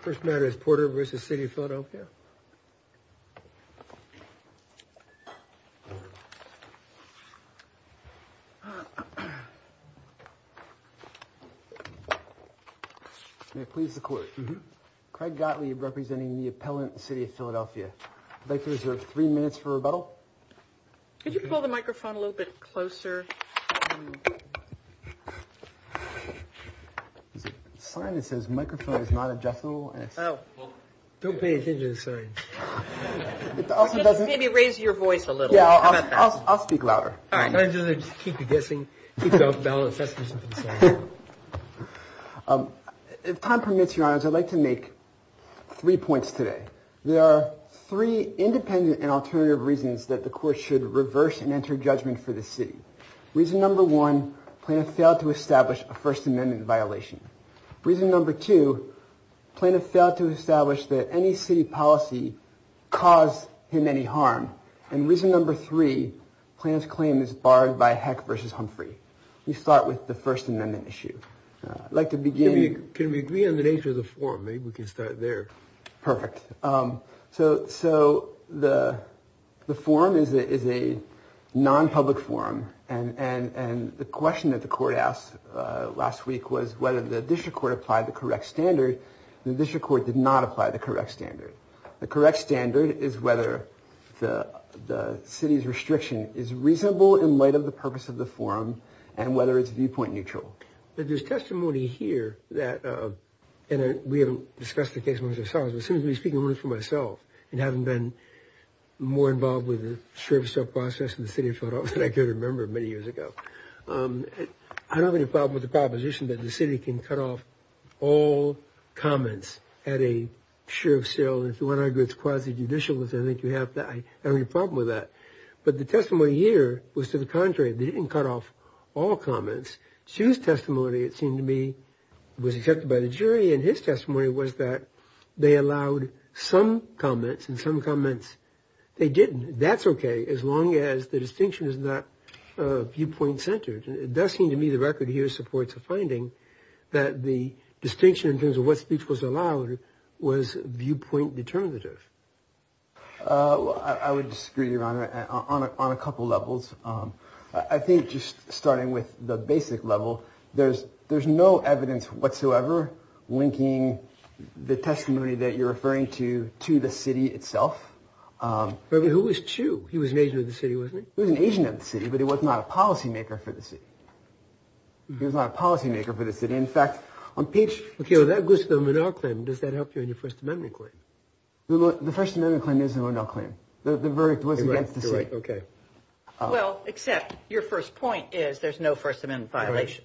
first matter is Porter v. City of Philadelphia. May I please the court? Craig Gottlieb representing the appellant City of Philadelphia. I'd like to reserve three minutes for rebuttal. Could you pull the microphone a little bit closer? Sign that says microphone is not adjustable. Don't pay attention to the sign. Maybe raise your voice a little. I'll speak louder. If time permits, your honors, I'd like to make three points today. There are three independent and alternative reasons that the court should reverse and enter judgment for this city. Reason number one, plaintiff failed to establish a First Amendment violation. Reason number two, plaintiff failed to establish that any city policy caused him any harm. And reason number three, plaintiff's claim is barred by Heck v. Humphrey. We start with the First Amendment issue. I'd like to begin. Can we agree on the nature of the forum? Maybe we can start there. Perfect. So the forum is a non-public forum. And the question that the court asked last week was whether the district court applied the correct standard. The district court did not apply the correct standard. The correct standard is whether the city's restriction is reasonable in light of the purpose of the forum and whether it's viewpoint neutral. But there's testimony here that, and we haven't discussed the case much ourselves, but since we're speaking only for myself and haven't been more involved with the sheriff's trial process in the city of Philadelphia than I could remember many years ago. I don't have any problem with the proposition that the city can cut off all comments at a sheriff's trial. And if you want to argue it's quasi-judicial, which I think you have, I don't have any problem with that. But the testimony here was to the contrary. They didn't cut off all comments. Hsu's testimony, it seemed to me, was accepted by the jury, and his testimony was that they allowed some comments and some comments they didn't. That's okay as long as the distinction is not viewpoint-centered. It does seem to me the record here supports a finding that the distinction in terms of what speech was allowed was viewpoint determinative. I would disagree, Your Honor, on a couple levels. I think just starting with the basic level, there's no evidence whatsoever linking the testimony that you're referring to to the city itself. But who was Hsu? He was an agent of the city, wasn't he? He was an agent of the city, but he was not a policymaker for the city. He was not a policymaker for the city. In fact, on page... Okay, well, that goes to the Menard claim. Does that help you in your First Amendment claim? The First Amendment claim is the Menard claim. The verdict was against the city. Okay. Well, except your first point is there's no First Amendment violation.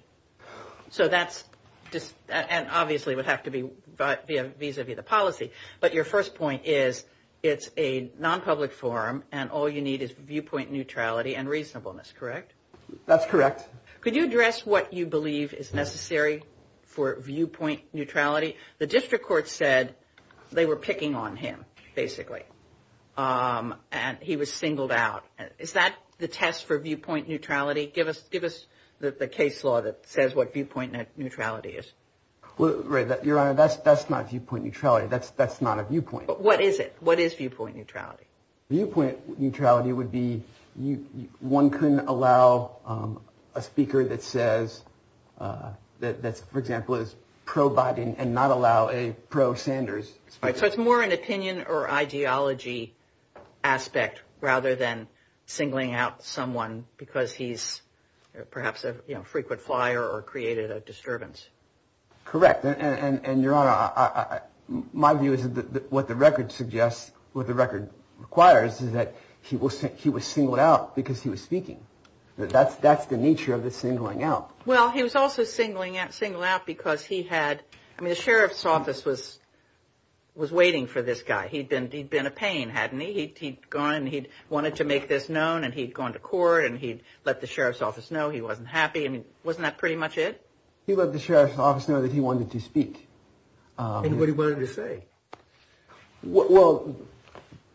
So that's just... and obviously would have to be vis-a-vis the policy. But your first point is it's a nonpublic forum, and all you need is viewpoint neutrality and reasonableness, correct? That's correct. Could you address what you believe is necessary for viewpoint neutrality? The district court said they were picking on him, basically, and he was singled out. Is that the test for viewpoint neutrality? Give us the case law that says what viewpoint neutrality is. Your Honor, that's not viewpoint neutrality. That's not a viewpoint. What is it? What is viewpoint neutrality? Viewpoint neutrality would be one couldn't allow a speaker that says that, for example, is pro-Biden and not allow a pro-Sanders. So it's more an opinion or ideology aspect rather than singling out someone because he's perhaps a frequent flyer or created a disturbance. Correct. And, Your Honor, my view is that what the record suggests, what the record requires, is that he was singled out because he was speaking. That's the nature of the singling out. Well, he was also singled out because he had... I mean, the sheriff's office was waiting for this guy. He'd been a pain, hadn't he? He'd gone and he'd wanted to make this known, and he'd gone to court and he'd let the sheriff's office know he wasn't happy. I mean, wasn't that pretty much it? He let the sheriff's office know that he wanted to speak. And what he wanted to say. Well,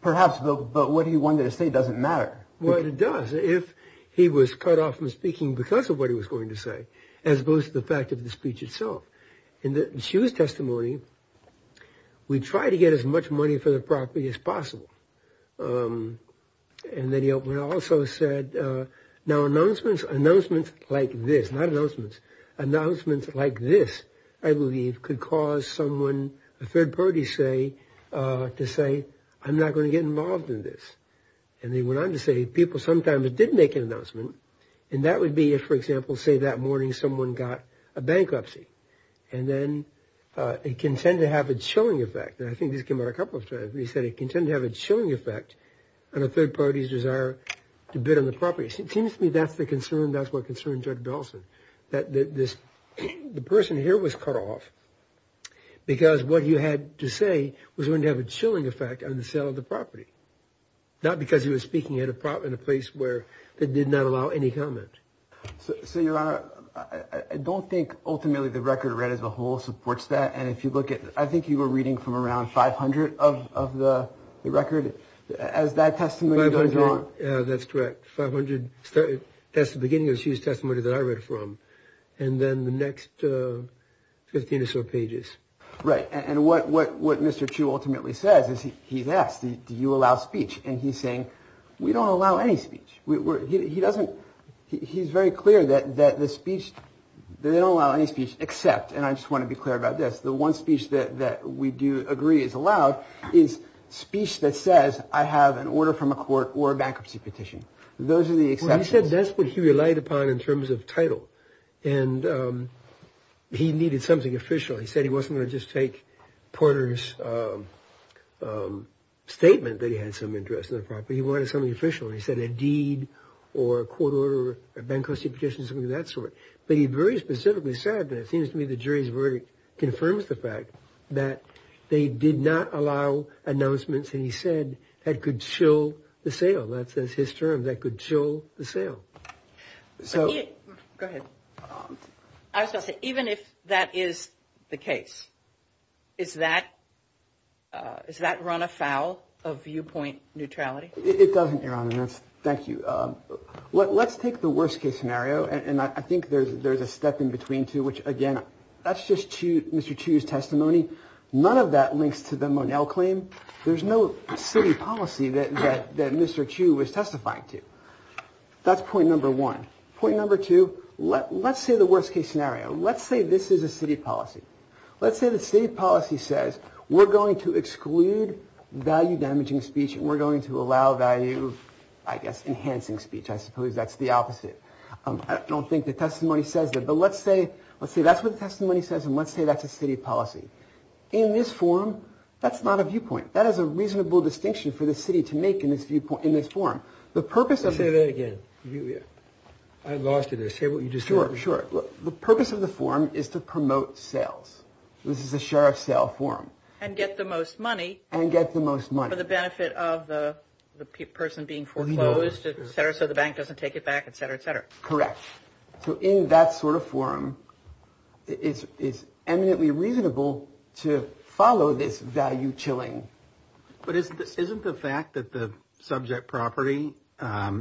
perhaps, but what he wanted to say doesn't matter. Well, it does if he was cut off from speaking because of what he was going to say, as opposed to the fact of the speech itself. In the Shue's testimony, we try to get as much money for the property as possible. And then he also said, now, announcements like this, not announcements, announcements like this, I believe, could cause someone, a third party, to say, I'm not going to get involved in this. And they went on to say people sometimes did make an announcement, and that would be if, for example, say that morning someone got a bankruptcy. And then it can tend to have a chilling effect. And I think this came out a couple of times where he said it can tend to have a chilling effect on a third party's desire to bid on the property. It seems to me that's the concern. That's what concerned Judge Belson, that this person here was cut off because what he had to say was going to have a chilling effect on the sale of the property. Not because he was speaking at a place where they did not allow any comment. So, Your Honor, I don't think ultimately the record read as a whole supports that. And if you look at I think you were reading from around 500 of the record as that testimony goes on. That's correct. Five hundred. That's the beginning of his testimony that I read from. And then the next 15 or so pages. Right. And what what what Mr. Chu ultimately says is he's asked, do you allow speech? And he's saying we don't allow any speech. He doesn't. He's very clear that that the speech they don't allow any speech except. And I just want to be clear about this. The one speech that we do agree is allowed is speech that says I have an order from a court or a bankruptcy petition. Those are the exceptions. That's what he relied upon in terms of title. And he needed something official. He said he wasn't going to just take Porter's statement that he had some interest in the property. He wanted something official. He said a deed or a court order, a bankruptcy petition, something of that sort. But he very specifically said that it seems to me the jury's verdict confirms the fact that they did not allow announcements. And he said that could show the sale. That's his term. That could show the sale. So go ahead. Even if that is the case, is that is that run afoul of viewpoint neutrality? It doesn't, Your Honor. Thank you. Let's take the worst case scenario. And I think there's there's a step in between two, which, again, that's just to Mr. Chu's testimony. None of that links to the Monell claim. There's no city policy that Mr. Chu was testifying to. That's point number one. Point number two, let's say the worst case scenario. Let's say this is a city policy. Let's say the state policy says we're going to exclude value damaging speech. And we're going to allow value, I guess, enhancing speech. I suppose that's the opposite. I don't think the testimony says that. But let's say let's say that's what the testimony says. And let's say that's a city policy in this forum. That's not a viewpoint. That is a reasonable distinction for the city to make in this viewpoint in this forum. The purpose of it again, I lost it. I say what you just heard. Sure. The purpose of the forum is to promote sales. This is a sheriff sale forum. And get the most money and get the most money for the benefit of the person being foreclosed. So the bank doesn't take it back, et cetera, et cetera. Correct. So in that sort of forum, it is eminently reasonable to follow this value chilling. But isn't this isn't the fact that the subject property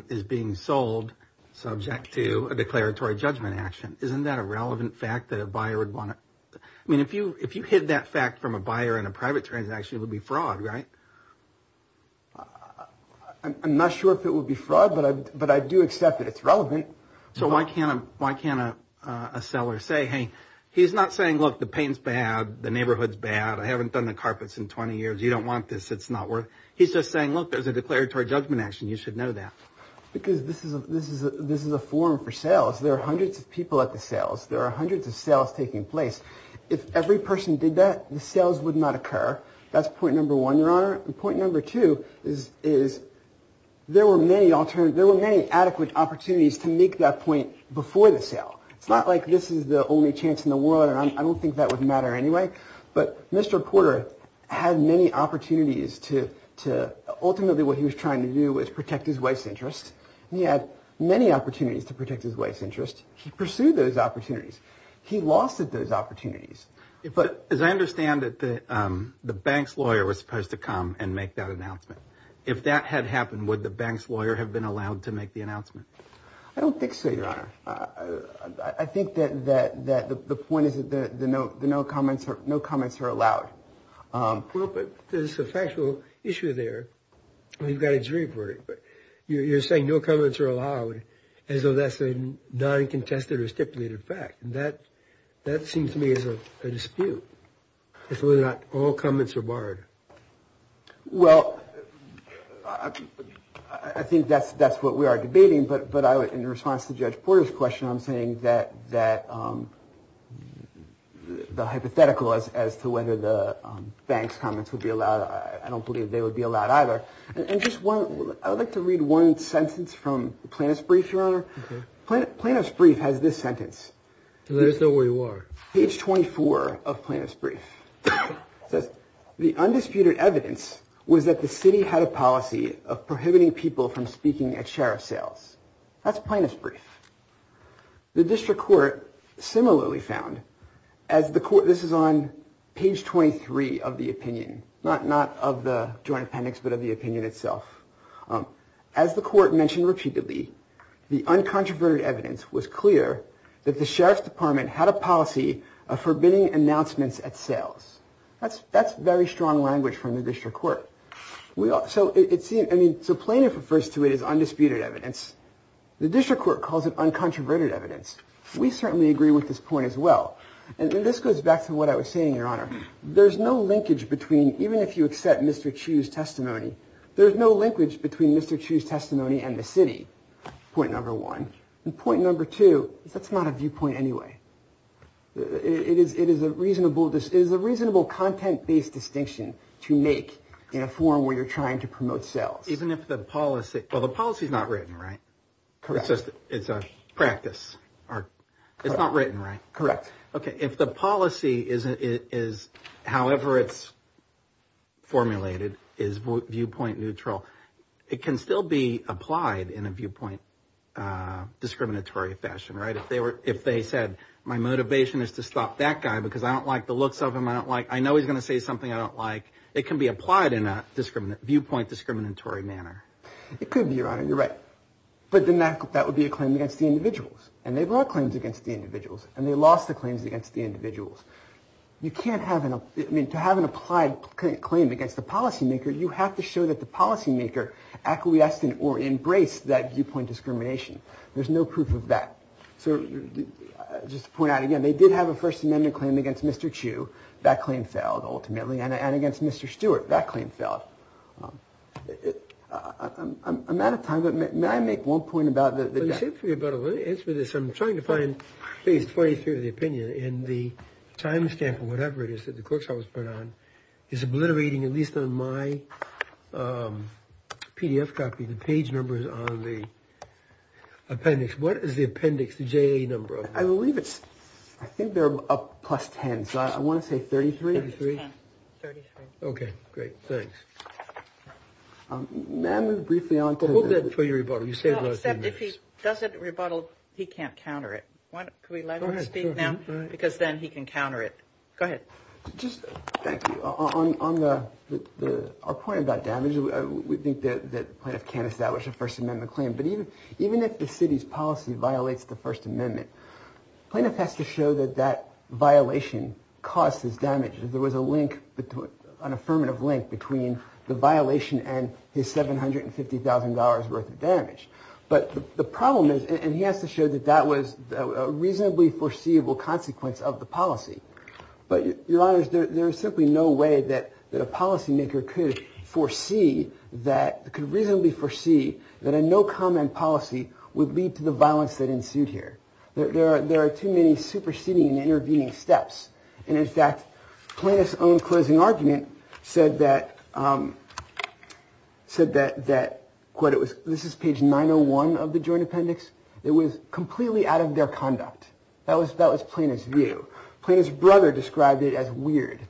is being sold subject to a declaratory judgment action? Isn't that a relevant fact that a buyer would want? I mean, if you if you hid that fact from a buyer in a private transaction, it would be fraud. Right. I'm not sure if it would be fraud, but I but I do accept that it's relevant. So why can't why can't a seller say, hey, he's not saying, look, the pain's bad. The neighborhood's bad. I haven't done the carpets in 20 years. You don't want this. It's not worth. He's just saying, look, there's a declaratory judgment action. You should know that. Because this is this is this is a forum for sales. There are hundreds of people at the sales. There are hundreds of sales taking place. If every person did that, the sales would not occur. That's point number one, your honor. Point number two is, is there were many alternative. There were many adequate opportunities to make that point before the sale. It's not like this is the only chance in the world. I don't think that would matter anyway. But Mr. Porter had many opportunities to to ultimately what he was trying to do was protect his wife's interest. He had many opportunities to protect his wife's interest. He pursued those opportunities. He lost those opportunities. But as I understand it, the bank's lawyer was supposed to come and make that announcement. If that had happened, would the bank's lawyer have been allowed to make the announcement? I don't think so, your honor. I think that that that the point is that the note, the no comments, no comments are allowed. But there's a factual issue there. We've got a jury for it. You're saying no comments are allowed as though that's a non-contested or stipulated fact. And that that seems to me is a dispute. It's whether or not all comments are barred. Well, I think that's that's what we are debating. But but I would in response to Judge Porter's question, I'm saying that that the hypothetical is as to whether the bank's comments would be allowed. I don't believe they would be allowed either. And just one, I'd like to read one sentence from the plaintiff's brief, your honor. Plaintiff's brief has this sentence. Let us know where you are. Page 24 of plaintiff's brief says the undisputed evidence was that the city had a policy of prohibiting people from speaking at sheriff's sales. That's plaintiff's brief. The district court similarly found as the court. This is on page 23 of the opinion, not not of the joint appendix, but of the opinion itself. As the court mentioned repeatedly, the uncontroverted evidence was clear that the sheriff's department had a policy of forbidding announcements at sales. That's that's very strong language from the district court. So it's I mean, so plaintiff refers to it as undisputed evidence. The district court calls it uncontroverted evidence. We certainly agree with this point as well. And this goes back to what I was saying, your honor. There's no linkage between even if you accept Mr. Chu's testimony. There's no linkage between Mr. Chu's testimony and the city. Point number one. Point number two, that's not a viewpoint anyway. It is. It is a reasonable. This is a reasonable content based distinction to make in a forum where you're trying to promote sales. Even if the policy. Well, the policy is not written. Right. Correct. It's a practice. It's not written. Right. Correct. OK. If the policy is, however, it's formulated, is viewpoint neutral. It can still be applied in a viewpoint discriminatory fashion. Right. If they were if they said, my motivation is to stop that guy because I don't like the looks of him. I don't like I know he's going to say something I don't like. It can be applied in a discriminant viewpoint, discriminatory manner. It could be your honor. You're right. But then that that would be a claim against the individuals. And they brought claims against the individuals and they lost the claims against the individuals. You can't have it. I mean, to have an applied claim against the policymaker, you have to show that the policymaker acquiesced in or embraced that viewpoint discrimination. There's no proof of that. So just to point out again, they did have a First Amendment claim against Mr. Chu. That claim failed ultimately. And against Mr. Stewart, that claim failed. I'm out of time, but may I make one point about that? Let me answer this. I'm trying to find phase 23 of the opinion in the timestamp or whatever it is that the court trial was put on. It's obliterating, at least on my PDF copy, the page numbers on the appendix. What is the appendix, the J.A. number? I believe it's I think they're up plus ten. So I want to say thirty three. Thirty three. OK, great. Thanks. Ma'am, briefly on that for your rebuttal, you said that if he doesn't rebuttal, he can't counter it. Could we let him speak now? Because then he can counter it. Go ahead. Just thank you on the point about damage. We think that the plaintiff can't establish a First Amendment claim. But even even if the city's policy violates the First Amendment, plaintiff has to show that that violation causes damage. There was a link, an affirmative link between the violation and his seven hundred and fifty thousand dollars worth of damage. But the problem is and he has to show that that was a reasonably foreseeable consequence of the policy. But your honor, there is simply no way that that a policymaker could foresee that could reasonably foresee that a no comment policy would lead to the violence that ensued here. There are there are too many superseding and intervening steps. And in fact, plaintiff's own closing argument said that said that that what it was. This is page nine or one of the joint appendix. It was completely out of their conduct. That was that was plaintiff's view. Plaintiff's brother described it as weird.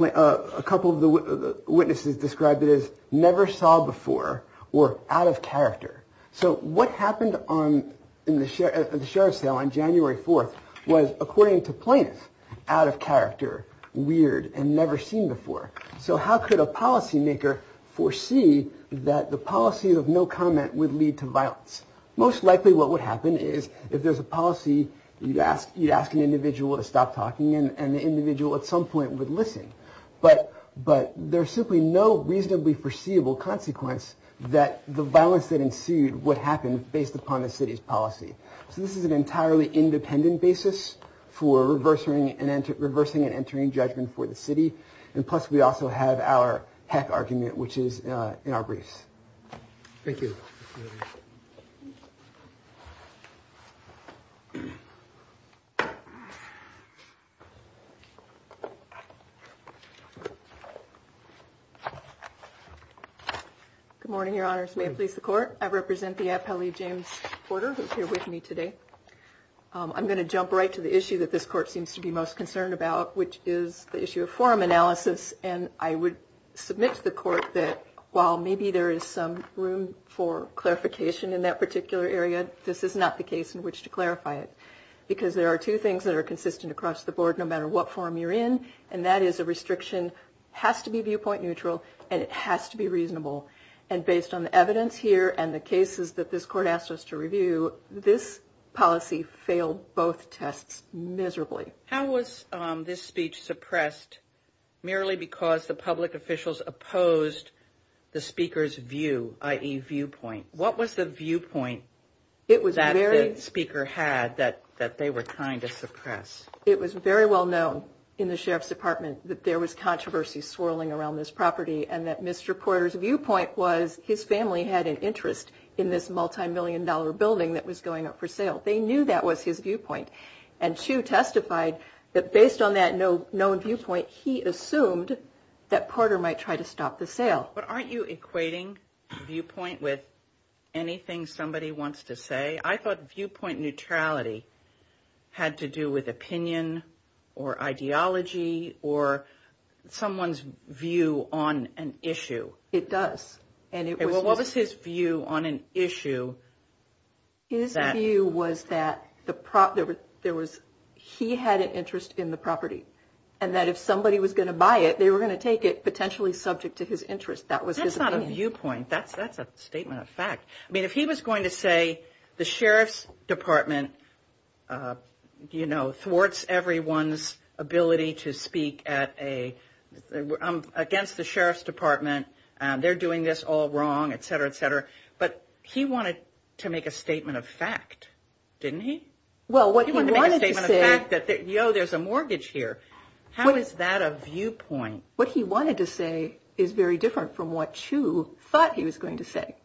A couple of the witnesses described it as never saw before or out of character. So what happened on the sheriff's sale on January 4th was, according to plaintiff, out of character, weird and never seen before. So how could a policymaker foresee that the policy of no comment would lead to violence? Most likely what would happen is if there's a policy, you'd ask you'd ask an individual to stop talking and the individual at some point would listen. But but there's simply no reasonably foreseeable consequence that the violence that ensued would happen based upon the city's policy. So this is an entirely independent basis for reversing and reversing and entering judgment for the city. And plus, we also have our heck argument, which is in our briefs. Thank you. Good morning, Your Honors. May it please the court. I represent the appellee, James Porter, who's here with me today. I'm going to jump right to the issue that this court seems to be most concerned about, which is the issue of forum analysis. And I would submit to the court that while maybe there is some room for clarification in that particular area, this is not the case in which to clarify it. Because there are two things that are consistent across the board, no matter what form you're in. And that is a restriction has to be viewpoint neutral and it has to be reasonable. And based on the evidence here and the cases that this court asked us to review, this policy failed both tests miserably. How was this speech suppressed merely because the public officials opposed the speaker's view, i.e. viewpoint? What was the viewpoint? It was very speaker had that that they were trying to suppress. It was very well known in the sheriff's department that there was controversy swirling around this property and that Mr. Porter's viewpoint was his family had an interest in this multimillion dollar building that was going up for sale. They knew that was his viewpoint. And Chu testified that based on that no known viewpoint, he assumed that Porter might try to stop the sale. But aren't you equating viewpoint with anything somebody wants to say? I thought viewpoint neutrality had to do with opinion or ideology or someone's view on an issue. It does. And what was his view on an issue? His view was that the there was he had an interest in the property and that if somebody was going to buy it, they were going to take it potentially subject to his interest. That was his viewpoint. That's that's a statement of fact. I mean, if he was going to say the sheriff's department, you know, thwarts everyone's ability to speak at a I'm against the sheriff's department. They're doing this all wrong, et cetera, et cetera. But he wanted to make a statement of fact, didn't he? Well, what he wanted to say that, you know, there's a mortgage here. How is that a viewpoint? What he wanted to say is very different from what Chu thought he was going to say.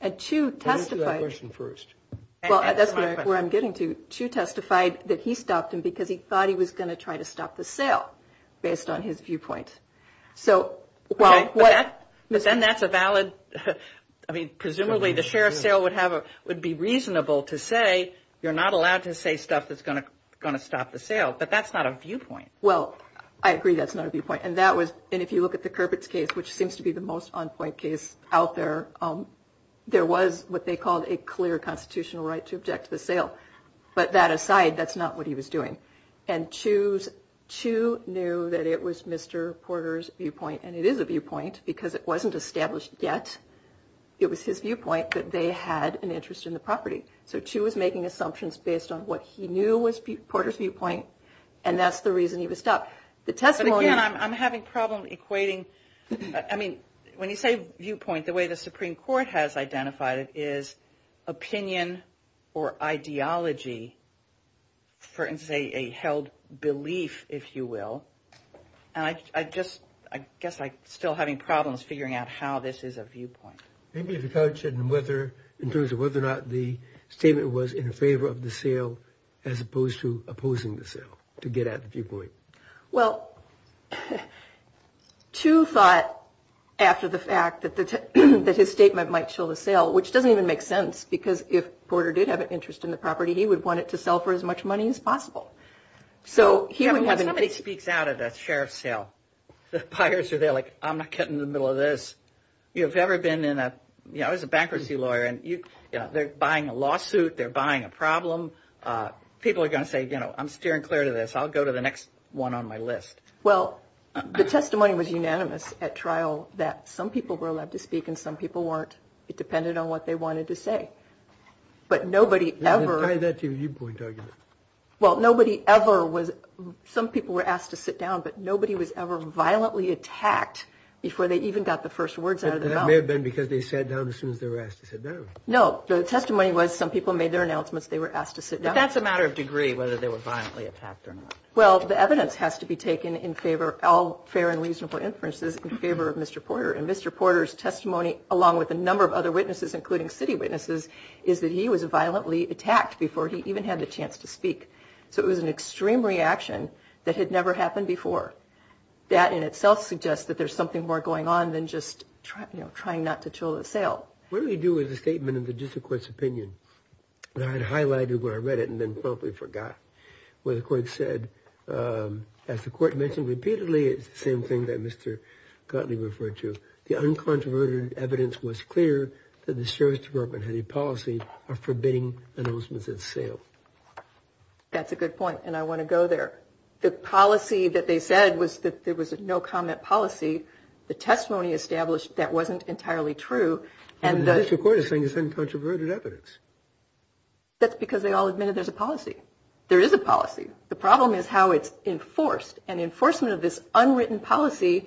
And Chu testified first. Well, that's where I'm getting to. Chu testified that he stopped him because he thought he was going to try to stop the sale based on his viewpoint. So, well, what then that's a valid I mean, presumably the sheriff's sale would have would be reasonable to say you're not allowed to say stuff that's going to going to stop the sale. But that's not a viewpoint. Well, I agree. That's not a viewpoint. And that was. And if you look at the curb, it's case, which seems to be the most on point case out there. There was what they called a clear constitutional right to object to the sale. But that aside, that's not what he was doing. And choose to knew that it was Mr. Porter's viewpoint. And it is a viewpoint because it wasn't established yet. It was his viewpoint that they had an interest in the property. So she was making assumptions based on what he knew was Porter's viewpoint. And that's the reason he was stopped. The testimony I'm having problem equating. I mean, when you say viewpoint, the way the Supreme Court has identified it is opinion or ideology. For instance, a held belief, if you will. And I just I guess I still having problems figuring out how this is a viewpoint. Maybe if you touch it and whether in terms of whether or not the statement was in favor of the sale as opposed to opposing the sale to get at the viewpoint. Well, two thought after the fact that that his statement might show the sale, which doesn't even make sense, because if Porter did have an interest in the property, he would want it to sell for as much money as possible. So here we have somebody speaks out of the sheriff's cell. The buyers are there like I'm not getting in the middle of this. You have ever been in a bankruptcy lawyer and you know, they're buying a lawsuit. They're buying a problem. People are going to say, you know, I'm steering clear to this. I'll go to the next one on my list. Well, the testimony was unanimous at trial that some people were allowed to speak and some people weren't. It depended on what they wanted to say. But nobody ever. Well, nobody ever was. Some people were asked to sit down, but nobody was ever violently attacked before they even got the first words out of their mouth. They've been because they sat down as soon as they were asked to sit down. No. The testimony was some people made their announcements. They were asked to sit down. That's a matter of degree, whether they were violently attacked or not. Well, the evidence has to be taken in favor of all fair and reasonable inferences in favor of Mr. Porter and Mr. Porter's testimony, along with a number of other witnesses, including city witnesses, is that he was violently attacked before he even had the chance to speak. So it was an extreme reaction that had never happened before. That in itself suggests that there's something more going on than just trying, you know, trying not to chill the sale. What do we do with the statement of the district court's opinion? And I had highlighted where I read it and then promptly forgot what the court said. As the court mentioned repeatedly, it's the same thing that Mr. Gottlieb referred to. The uncontroverted evidence was clear that the service department had a policy of forbidding announcements at sale. That's a good point. And I want to go there. The policy that they said was that there was no comment policy. The testimony established that wasn't entirely true. And the court is saying is uncontroverted evidence. That's because they all admitted there's a policy. There is a policy. The problem is how it's enforced. And enforcement of this unwritten policy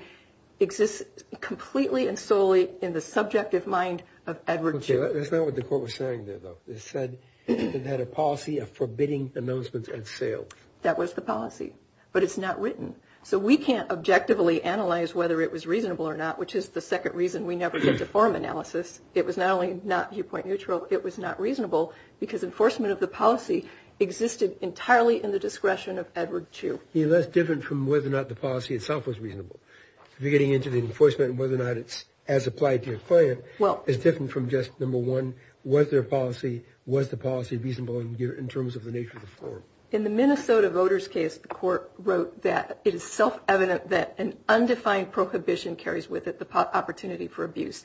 exists completely and solely in the subjective mind of Edward Chu. That's not what the court was saying there, though. It said it had a policy of forbidding announcements at sale. That was the policy. But it's not written. So we can't objectively analyze whether it was reasonable or not, which is the second reason we never did the forum analysis. It was not only not viewpoint neutral. It was not reasonable because enforcement of the policy existed entirely in the discretion of Edward Chu. That's different from whether or not the policy itself was reasonable. Getting into the enforcement and whether or not it's as applied to a client is different from just, number one, was there a policy? Was the policy reasonable in terms of the nature of the forum? In the Minnesota voters case, the court wrote that it is self-evident that an undefined prohibition carries with it the opportunity for abuse.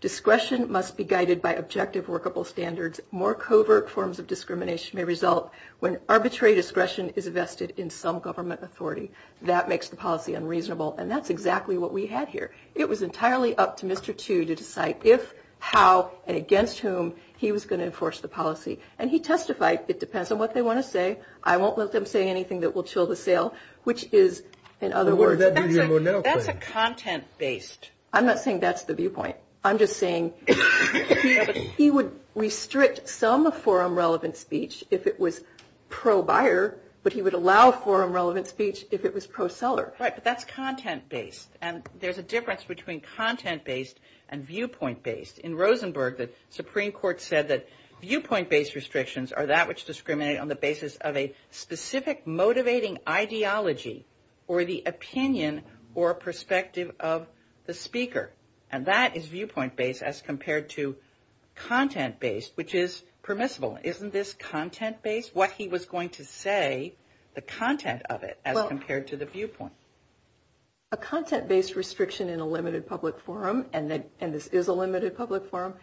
Discretion must be guided by objective workable standards. More covert forms of discrimination may result when arbitrary discretion is vested in some government authority. That makes the policy unreasonable. And that's exactly what we had here. It was entirely up to Mr. Chu to decide if, how, and against whom he was going to enforce the policy. And he testified, it depends on what they want to say. I won't let them say anything that will chill the sale, which is, in other words, that's a content-based. I'm not saying that's the viewpoint. I'm just saying he would restrict some forum-relevant speech if it was pro-buyer, but he would allow forum-relevant speech if it was pro-seller. Right, but that's content-based. And there's a difference between content-based and viewpoint-based. In Rosenberg, the Supreme Court said that viewpoint-based restrictions are that which discriminate on the basis of a specific motivating ideology or the opinion or perspective of the speaker. And that is viewpoint-based as compared to content-based, which is permissible. Isn't this content-based, what he was going to say, the content of it as compared to the viewpoint? A content-based restriction in a limited public forum, and this is a limited public forum,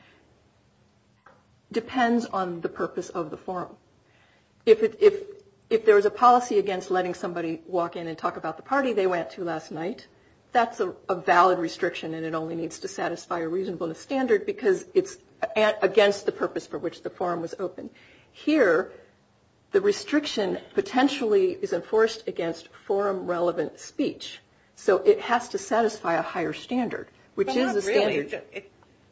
depends on the purpose of the forum. If there was a policy against letting somebody walk in and talk about the party they went to last night, that's a valid restriction, and it only needs to satisfy a reasonableness standard because it's against the purpose for which the forum was opened. Here, the restriction potentially is enforced against forum-relevant speech, so it has to satisfy a higher standard, which is a standard.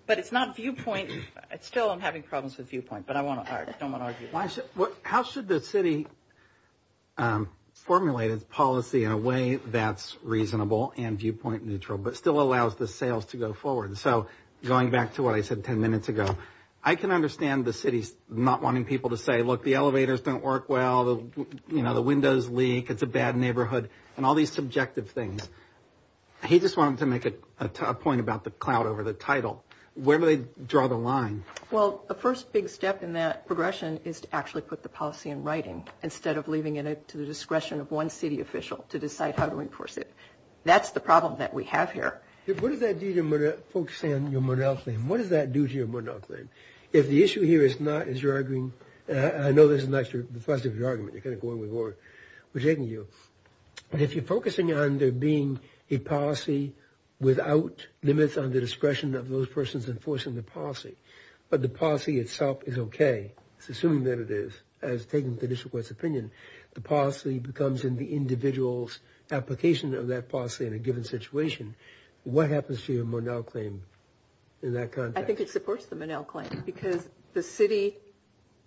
But it's not viewpoint. Still, I'm having problems with viewpoint, but I don't want to argue. How should the city formulate its policy in a way that's reasonable and viewpoint-neutral but still allows the sales to go forward? So going back to what I said 10 minutes ago, I can understand the city's not wanting people to say, look, the elevators don't work well, the windows leak, it's a bad neighborhood, and all these subjective things. He just wanted to make a point about the cloud over the title. Where do they draw the line? Well, the first big step in that progression is to actually put the policy in writing instead of leaving it to the discretion of one city official to decide how to enforce it. That's the problem that we have here. What does that do to folks saying you're monocling? What does that do to your monocling? If the issue here is not, as you're arguing, and I know this is not the subject of your argument, you're kind of going with what we're taking here. If you're focusing on there being a policy without limits on the discretion of those persons enforcing the policy, but the policy itself is okay, assuming that it is, as taken with the district court's opinion, the policy becomes in the individual's application of that policy in a given situation, what happens to your Monell claim in that context? I think it supports the Monell claim because the city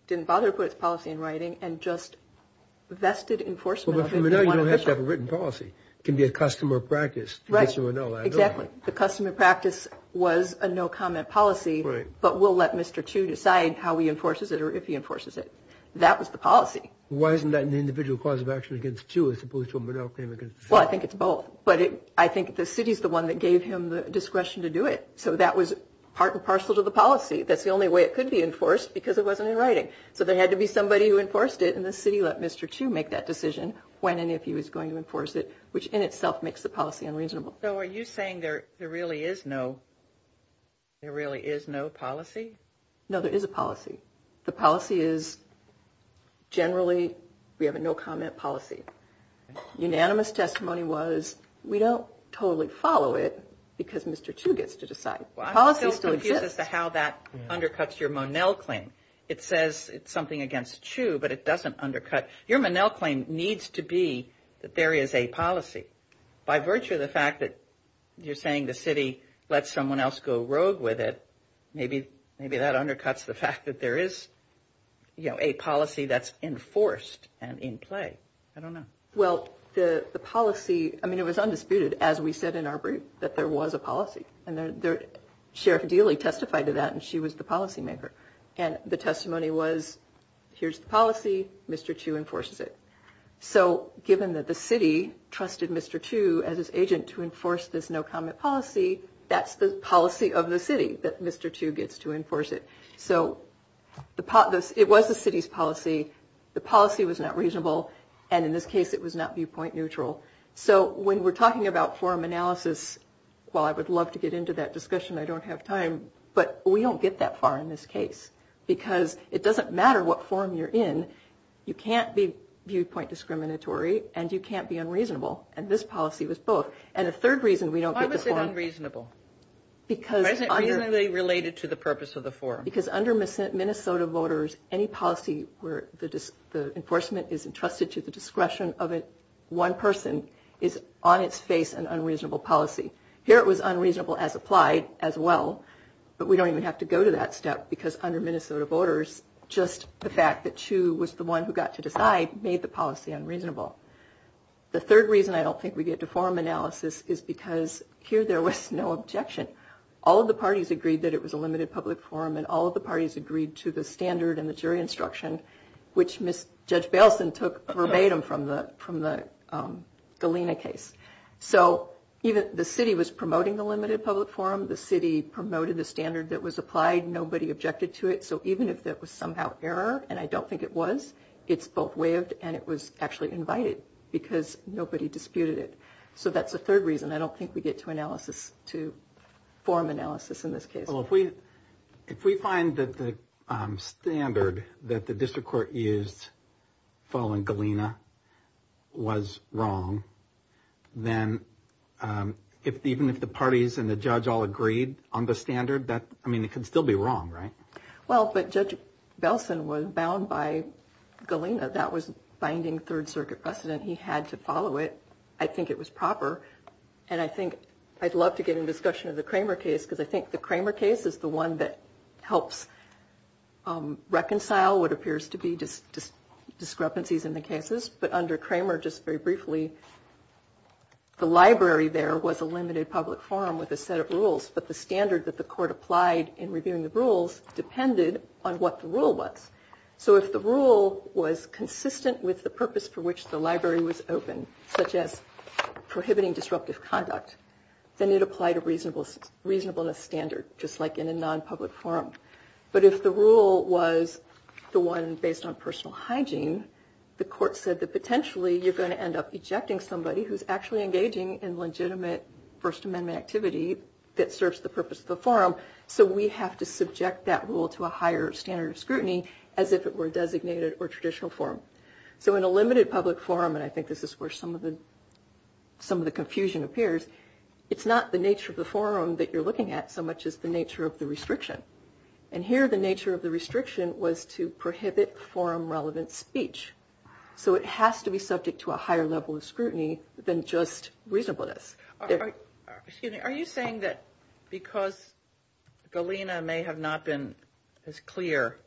didn't bother to put its policy in writing and just vested enforcement of it. But for Monell, you don't have to have a written policy. It can be a customer practice. Right. The customer practice was a no-comment policy, but we'll let Mr. Chu decide how he enforces it or if he enforces it. That was the policy. Why isn't that an individual cause of action against Chu as opposed to a Monell claim against the city? Well, I think it's both. But I think the city's the one that gave him the discretion to do it. So that was part and parcel to the policy. That's the only way it could be enforced because it wasn't in writing. So there had to be somebody who enforced it, and the city let Mr. Chu make that decision when and if he was going to enforce it, which in itself makes the policy unreasonable. So are you saying there really is no policy? No, there is a policy. The policy is generally we have a no-comment policy. Unanimous testimony was we don't totally follow it because Mr. Chu gets to decide. Well, I'm just confused as to how that undercuts your Monell claim. It says it's something against Chu, but it doesn't undercut. Your Monell claim needs to be that there is a policy. By virtue of the fact that you're saying the city lets someone else go rogue with it, maybe that undercuts the fact that there is a policy that's enforced and in play. I don't know. Well, the policy, I mean, it was undisputed, as we said in our brief, that there was a policy. And Sheriff Dealey testified to that, and she was the policymaker. And the testimony was, here's the policy. Mr. Chu enforces it. So given that the city trusted Mr. Chu as its agent to enforce this no-comment policy, that's the policy of the city that Mr. Chu gets to enforce it. So it was the city's policy. The policy was not reasonable. And in this case, it was not viewpoint neutral. So when we're talking about forum analysis, while I would love to get into that discussion, I don't have time. But we don't get that far in this case because it doesn't matter what forum you're in. You can't be viewpoint discriminatory and you can't be unreasonable. And this policy was both. And the third reason we don't get to forum. Why was it unreasonable? Why is it reasonably related to the purpose of the forum? Because under Minnesota voters, any policy where the enforcement is entrusted to the discretion of one person is on its face an unreasonable policy. Here it was unreasonable as applied as well. But we don't even have to go to that step because under Minnesota voters, just the fact that Chu was the one who got to decide made the policy unreasonable. The third reason I don't think we get to forum analysis is because here there was no objection. All of the parties agreed that it was a limited public forum. And all of the parties agreed to the standard and the jury instruction, which Judge Baleson took verbatim from the Galena case. So the city was promoting the limited public forum. The city promoted the standard that was applied. Nobody objected to it. So even if that was somehow error, and I don't think it was, it's both waived and it was actually invited because nobody disputed it. So that's the third reason I don't think we get to analysis, to forum analysis in this case. Well, if we find that the standard that the district court used following Galena was wrong, then even if the parties and the judge all agreed on the standard, I mean, it could still be wrong, right? Well, but Judge Baleson was bound by Galena. That was binding Third Circuit precedent. He had to follow it. I think it was proper. And I think I'd love to get in discussion of the Kramer case, because I think the Kramer case is the one that helps reconcile what appears to be discrepancies in the cases. But under Kramer, just very briefly, the library there was a limited public forum with a set of rules. But the standard that the court applied in reviewing the rules depended on what the rule was. So if the rule was consistent with the purpose for which the library was open, such as prohibiting disruptive conduct, then it applied a reasonableness standard, just like in a non-public forum. But if the rule was the one based on personal hygiene, the court said that potentially you're going to end up ejecting somebody who's actually engaging in legitimate First Amendment activity that serves the purpose of the forum. So we have to subject that rule to a higher standard of scrutiny as if it were a designated or traditional forum. So in a limited public forum, and I think this is where some of the confusion appears, it's not the nature of the forum that you're looking at so much as the nature of the restriction. And here the nature of the restriction was to prohibit forum-relevant speech. So it has to be subject to a higher level of scrutiny than just reasonableness. Are you saying that because GALENA may have not been as clear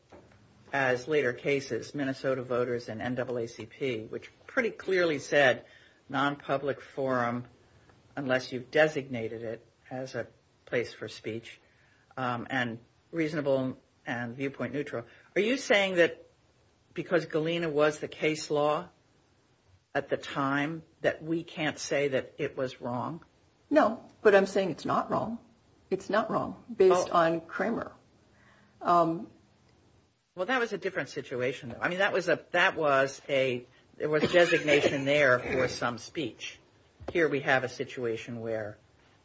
as later cases, Minnesota voters and NAACP, which pretty clearly said non-public forum unless you've designated it as a place for speech and reasonable and viewpoint neutral, are you saying that because GALENA was the case law at the time that we can't say that it was wrong? No, but I'm saying it's not wrong. It's not wrong based on Cramer. Well, that was a different situation. I mean, that was a designation there for some speech. Here we have a situation where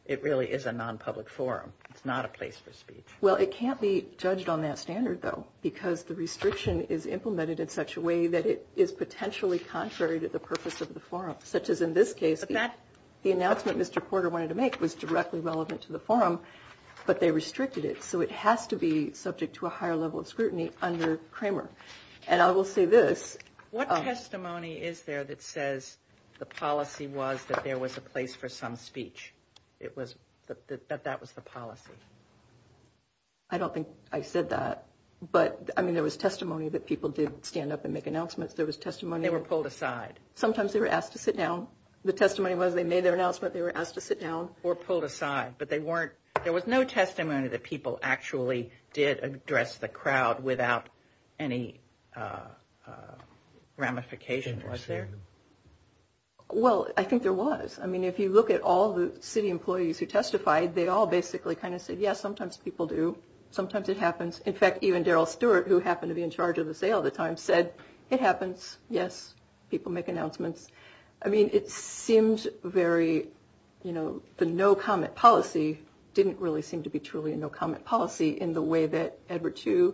it really is a non-public forum. It's not a place for speech. Well, it can't be judged on that standard, though, because the restriction is implemented in such a way that it is potentially contrary to the purpose of the forum, such as in this case the announcement Mr. Porter wanted to make was directly relevant to the forum, but they restricted it. So it has to be subject to a higher level of scrutiny under Cramer. And I will say this. What testimony is there that says the policy was that there was a place for some speech? That that was the policy? I don't think I said that. But, I mean, there was testimony that people did stand up and make announcements. There was testimony. They were pulled aside. Sometimes they were asked to sit down. The testimony was they made their announcement, they were asked to sit down. Or pulled aside. But there was no testimony that people actually did address the crowd without any ramification, was there? Well, I think there was. I mean, if you look at all the city employees who testified, they all basically kind of said, yes, sometimes people do. Sometimes it happens. In fact, even Daryl Stewart, who happened to be in charge of the sale at the time, said it happens. Yes, people make announcements. I mean, it seems very, you know, the no comment policy didn't really seem to be truly a no comment policy in the way that Edward II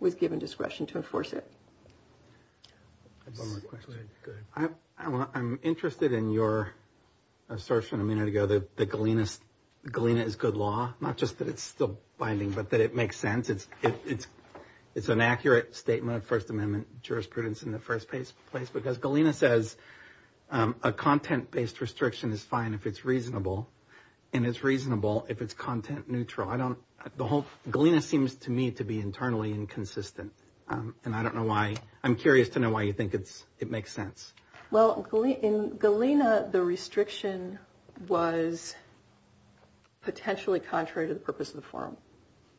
was given discretion to enforce it. I have one more question. Go ahead. I'm interested in your assertion a minute ago that GALENA is good law. Not just that it's still binding, but that it makes sense. It's an accurate statement of First Amendment jurisprudence in the first place. Because GALENA says a content-based restriction is fine if it's reasonable. And it's reasonable if it's content neutral. I don't the whole GALENA seems to me to be internally inconsistent. And I don't know why. I'm curious to know why you think it makes sense. Well, in GALENA, the restriction was potentially contrary to the purpose of the forum.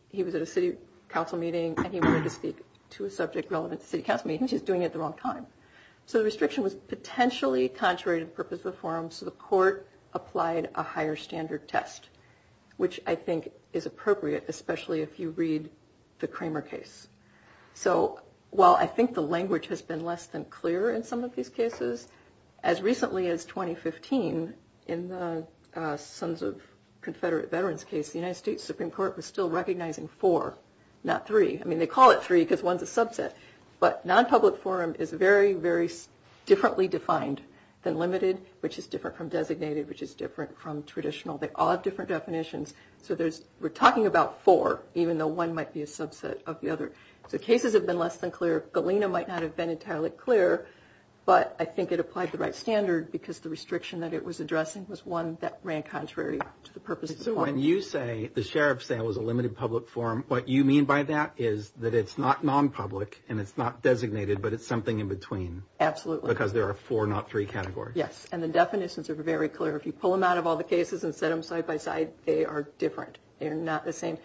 He was at a city council meeting and he wanted to speak to a subject relevant to city council meetings. He was doing it at the wrong time. So the restriction was potentially contrary to the purpose of the forum. So the court applied a higher standard test, which I think is appropriate, especially if you read the Kramer case. So while I think the language has been less than clear in some of these cases, as recently as 2015 in the Sons of Confederate Veterans case, the United States Supreme Court was still recognizing four, not three. I mean, they call it three because one's a subset. But non-public forum is very, very differently defined than limited, which is different from designated, which is different from traditional. They all have different definitions. So we're talking about four, even though one might be a subset of the other. So cases have been less than clear. GALENA might not have been entirely clear, but I think it applied the right standard because the restriction that it was addressing was one that ran contrary to the purpose of the forum. So when you say the sheriff's sale was a limited public forum, what you mean by that is that it's not non-public and it's not designated, but it's something in between. Absolutely. Because there are four, not three categories. Yes. And the definitions are very clear. If you pull them out of all the cases and set them side by side, they are different. They are not the same.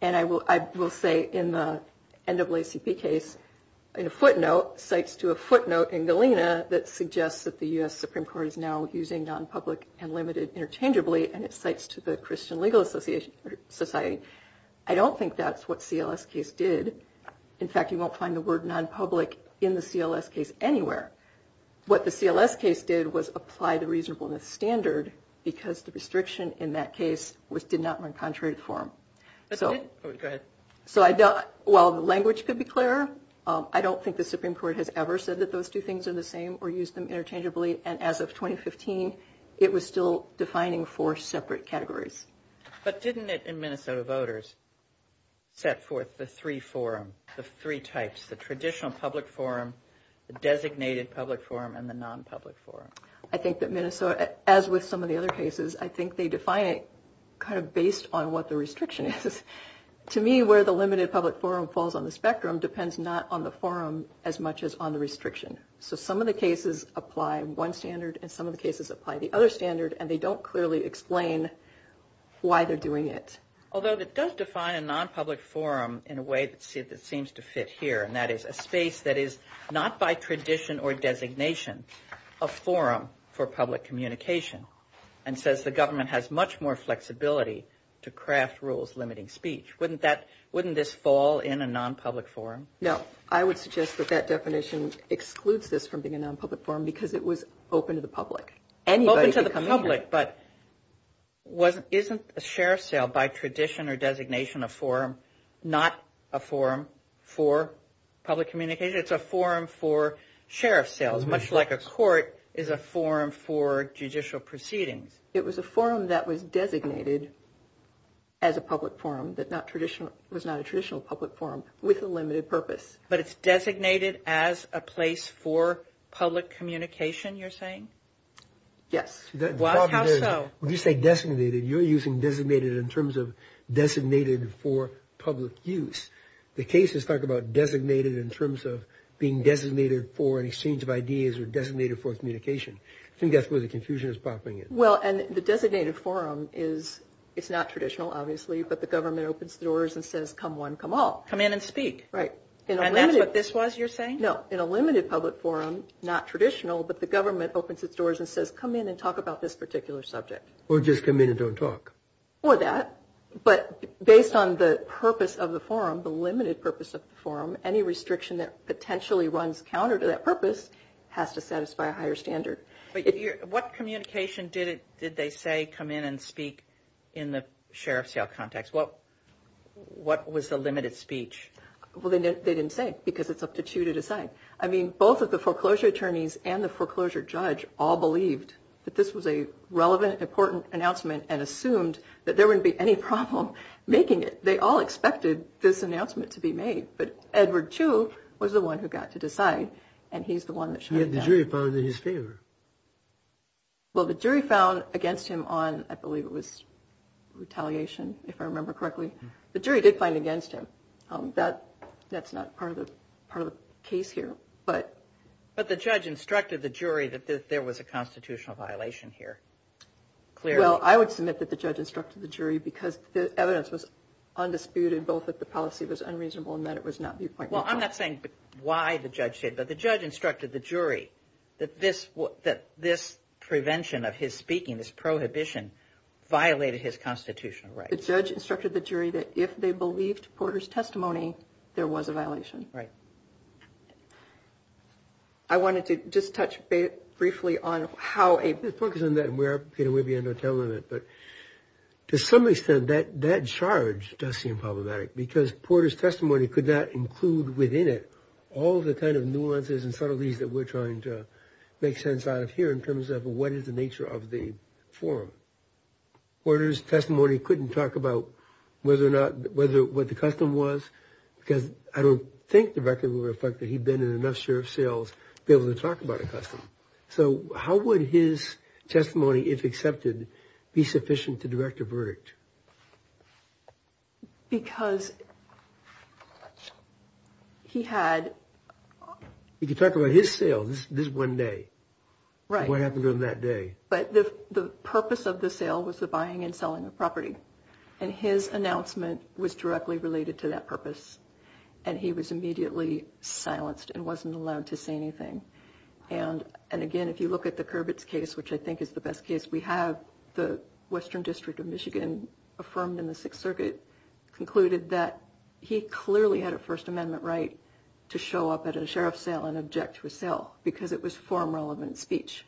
And I will say in the NAACP case, in a footnote, cites to a footnote in Galena that suggests that the U.S. Supreme Court is now using non-public and limited interchangeably, and it cites to the Christian Legal Society. I don't think that's what CLS case did. In fact, you won't find the word non-public in the CLS case anywhere. What the CLS case did was apply the reasonableness standard because the restriction in that case did not run contrary to the forum. Go ahead. So while the language could be clearer, I don't think the Supreme Court has ever said that those two things are the same or used them interchangeably, and as of 2015, it was still defining four separate categories. But didn't it in Minnesota voters set forth the three forum, the three types, the traditional public forum, the designated public forum, and the non-public forum? I think that Minnesota, as with some of the other cases, I think they define it kind of based on what the restriction is. To me, where the limited public forum falls on the spectrum depends not on the forum as much as on the restriction. So some of the cases apply one standard, and some of the cases apply the other standard, and they don't clearly explain why they're doing it. Although it does define a non-public forum in a way that seems to fit here, and that is a space that is not by tradition or designation a forum for public communication and says the government has much more flexibility to craft rules limiting speech. Wouldn't this fall in a non-public forum? No. I would suggest that that definition excludes this from being a non-public forum because it was open to the public. Open to the public, but isn't a sheriff's sale by tradition or designation a forum, not a forum for public communication? It's a forum for sheriff's sales, much like a court is a forum for judicial proceedings. It was a forum that was designated as a public forum, that was not a traditional public forum with a limited purpose. But it's designated as a place for public communication, you're saying? Yes. Well, how so? When you say designated, you're using designated in terms of designated for public use. The cases talk about designated in terms of being designated for an exchange of ideas or designated for communication. I think that's where the confusion is popping in. Well, and the designated forum is not traditional, obviously, but the government opens the doors and says come one, come all. Come in and speak. Right. And that's what this was, you're saying? No. In a limited public forum, not traditional, but the government opens its doors and says come in and talk about this particular subject. Or just come in and don't talk. Or that. But based on the purpose of the forum, the limited purpose of the forum, any restriction that potentially runs counter to that purpose has to satisfy a higher standard. What communication did they say come in and speak in the sheriff's sale context? What was the limited speech? Well, they didn't say because it's up to Chu to decide. I mean, both of the foreclosure attorneys and the foreclosure judge all believed that this was a relevant, important announcement and assumed that there wouldn't be any problem making it. They all expected this announcement to be made. But Edward Chu was the one who got to decide, and he's the one that shot it down. Yet the jury found it in his favor. Well, the jury found against him on, I believe it was retaliation, if I remember correctly. The jury did find it against him. That's not part of the case here. But the judge instructed the jury that there was a constitutional violation here. Well, I would submit that the judge instructed the jury because the evidence was undisputed both that the policy was unreasonable and that it was not viewpoint. Well, I'm not saying why the judge did it, but the judge instructed the jury that this prevention of his speaking, this prohibition, violated his constitutional rights. The judge instructed the jury that if they believed Porter's testimony, there was a violation. Right. I wanted to just touch briefly on how a – Let's focus on that, and we may be out of time on it. But to some extent, that charge does seem problematic because Porter's testimony could not include within it all the kind of nuances and subtleties that we're trying to make sense out of here in terms of what is the nature of the forum. Porter's testimony couldn't talk about whether or not – what the custom was because I don't think the record would reflect that he'd been in enough sheriff's jails to be able to talk about a custom. So how would his testimony, if accepted, be sufficient to direct a verdict? Because he had – If you talk about his sale, this is one day. Right. What happened on that day? But the purpose of the sale was the buying and selling of property, and his announcement was directly related to that purpose, and he was immediately silenced and wasn't allowed to say anything. And, again, if you look at the Kurbitz case, which I think is the best case, we have the Western District of Michigan, affirmed in the Sixth Circuit, concluded that he clearly had a First Amendment right to show up at a sheriff's sale and object to a sale because it was forum-relevant speech.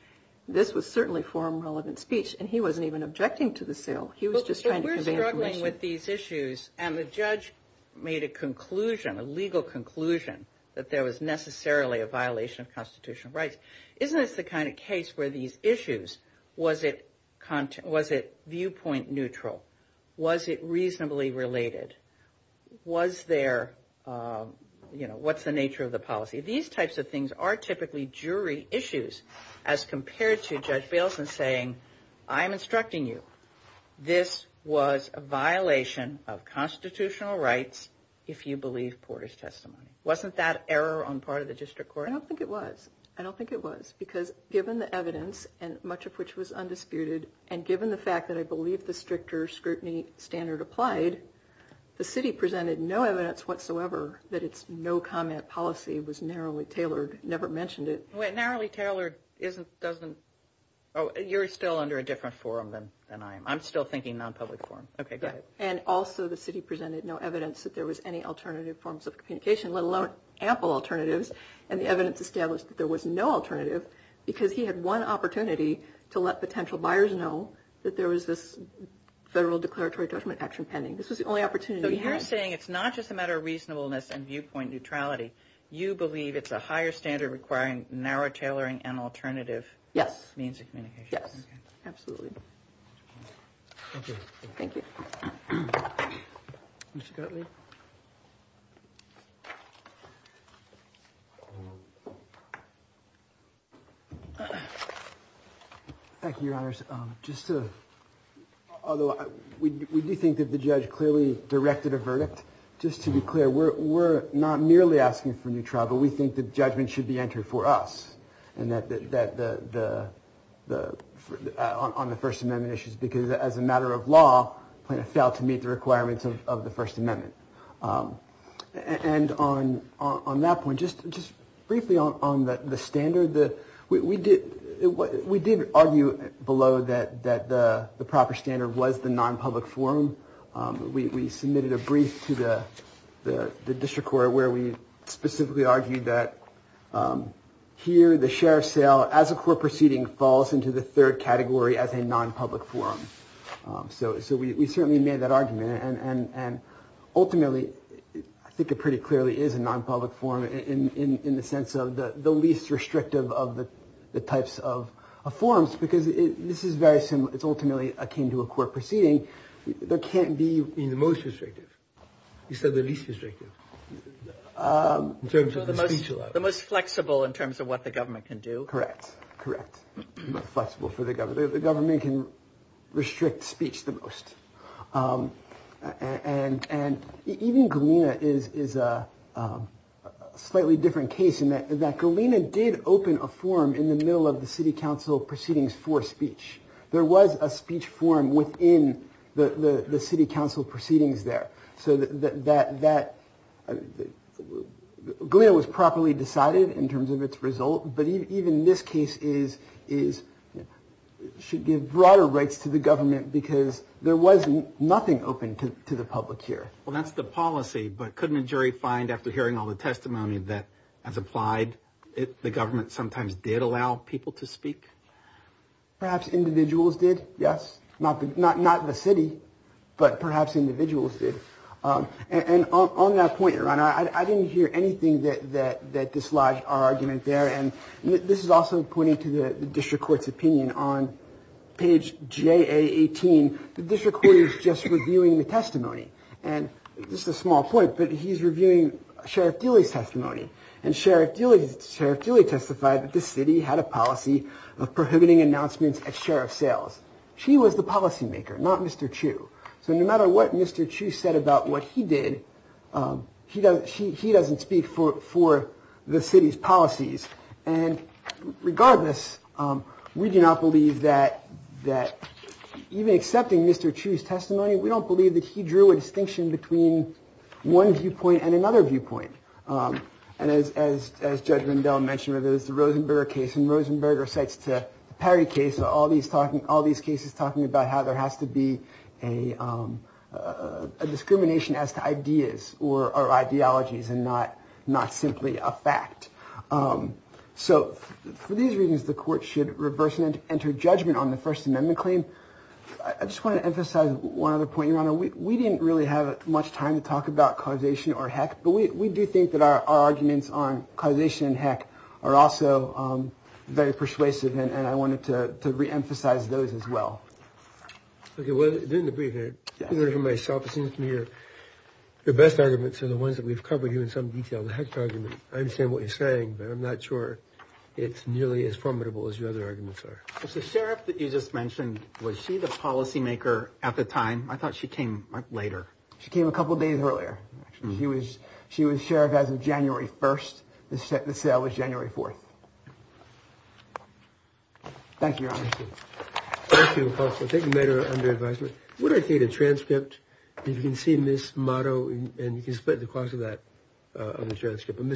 This was certainly forum-relevant speech, and he wasn't even objecting to the sale. He was just trying to convey information. But we're struggling with these issues, and the judge made a conclusion, a legal conclusion that there was necessarily a violation of constitutional rights. Isn't this the kind of case where these issues – was it viewpoint-neutral? Was it reasonably related? Was there – you know, what's the nature of the policy? These types of things are typically jury issues as compared to Judge Baleson saying, I'm instructing you. This was a violation of constitutional rights if you believe Porter's testimony. Wasn't that error on part of the district court? I don't think it was. I don't think it was because given the evidence, and much of which was undisputed, and given the fact that I believe the stricter scrutiny standard applied, the city presented no evidence whatsoever that its no-comment policy was narrowly tailored. It never mentioned it. Narrowly tailored isn't – doesn't – oh, you're still under a different forum than I am. I'm still thinking non-public forum. Okay, go ahead. And also the city presented no evidence that there was any alternative forms of communication, let alone ample alternatives. And the evidence established that there was no alternative because he had one opportunity to let potential buyers know that there was this federal declaratory judgment action pending. This was the only opportunity he had. So you're saying it's not just a matter of reasonableness and viewpoint neutrality. You believe it's a higher standard requiring narrow tailoring and alternative means of communication. Yes. Absolutely. Thank you. Thank you. Mr. Gottlieb. Thank you, Your Honors. Just to – although we do think that the judge clearly directed a verdict. Just to be clear, we're not merely asking for a new trial, but we think that judgment should be entered for us on the First Amendment issues because as a matter of law, the plaintiff failed to meet the requirements of the First Amendment. And on that point, just briefly on the standard, we did argue below that the proper standard was the non-public forum. We submitted a brief to the district court where we specifically argued that here, the sheriff's sale as a court proceeding falls into the third category as a non-public forum. So we certainly made that argument. And ultimately, I think it pretty clearly is a non-public forum in the sense of the least restrictive of the types of forums because this is very – it's ultimately akin to a court proceeding. There can't be – You mean the most restrictive. You said the least restrictive in terms of the speech allowance. The most flexible in terms of what the government can do. Correct. Correct. Flexible for the government. The government can restrict speech the most. And even Galena is a slightly different case in that Galena did open a forum in the middle of the city council proceedings for speech. There was a speech forum within the city council proceedings there. So that – Galena was properly decided in terms of its result. But even this case is – should give broader rights to the government because there was nothing open to the public here. Well, that's the policy. But couldn't a jury find, after hearing all the testimony that has applied, the government sometimes did allow people to speak? Perhaps individuals did, yes. Not the city, but perhaps individuals did. And on that point, Ron, I didn't hear anything that dislodged our argument there. And this is also pointing to the district court's opinion. On page JA18, the district court is just reviewing the testimony. And this is a small point, but he's reviewing Sheriff Dilley's testimony. And Sheriff Dilley testified that the city had a policy of prohibiting announcements at sheriff sales. She was the policymaker, not Mr. Chu. So no matter what Mr. Chu said about what he did, he doesn't speak for the city's policies. And regardless, we do not believe that – even accepting Mr. Chu's testimony, we don't believe that he drew a distinction between one viewpoint and another viewpoint. And as Judge Rendell mentioned, there's the Rosenberger case, and Rosenberger cites the Perry case, all these cases talking about how there has to be a discrimination as to ideas or ideologies and not simply a fact. So for these reasons, the court should reverse and enter judgment on the First Amendment claim. I just want to emphasize one other point, Your Honor. We didn't really have much time to talk about causation or heck, but we do think that our arguments on causation and heck are also very persuasive, and I wanted to reemphasize those as well. Okay, well, in the brief, Your Honor, for myself, it seems to me your best arguments are the ones that we've covered here in some detail, the heck argument. I understand what you're saying, but I'm not sure it's nearly as formidable as your other arguments are. The sheriff that you just mentioned, was she the policymaker at the time? I thought she came later. She came a couple of days earlier. She was sheriff as of January 1st. The sale was January 4th. Thank you, Your Honor. Thank you, Counselor. Thank you, Madam Underadviser. Would I get a transcript? If you can see Ms. Motto, and you can split the cost of that on the transcript.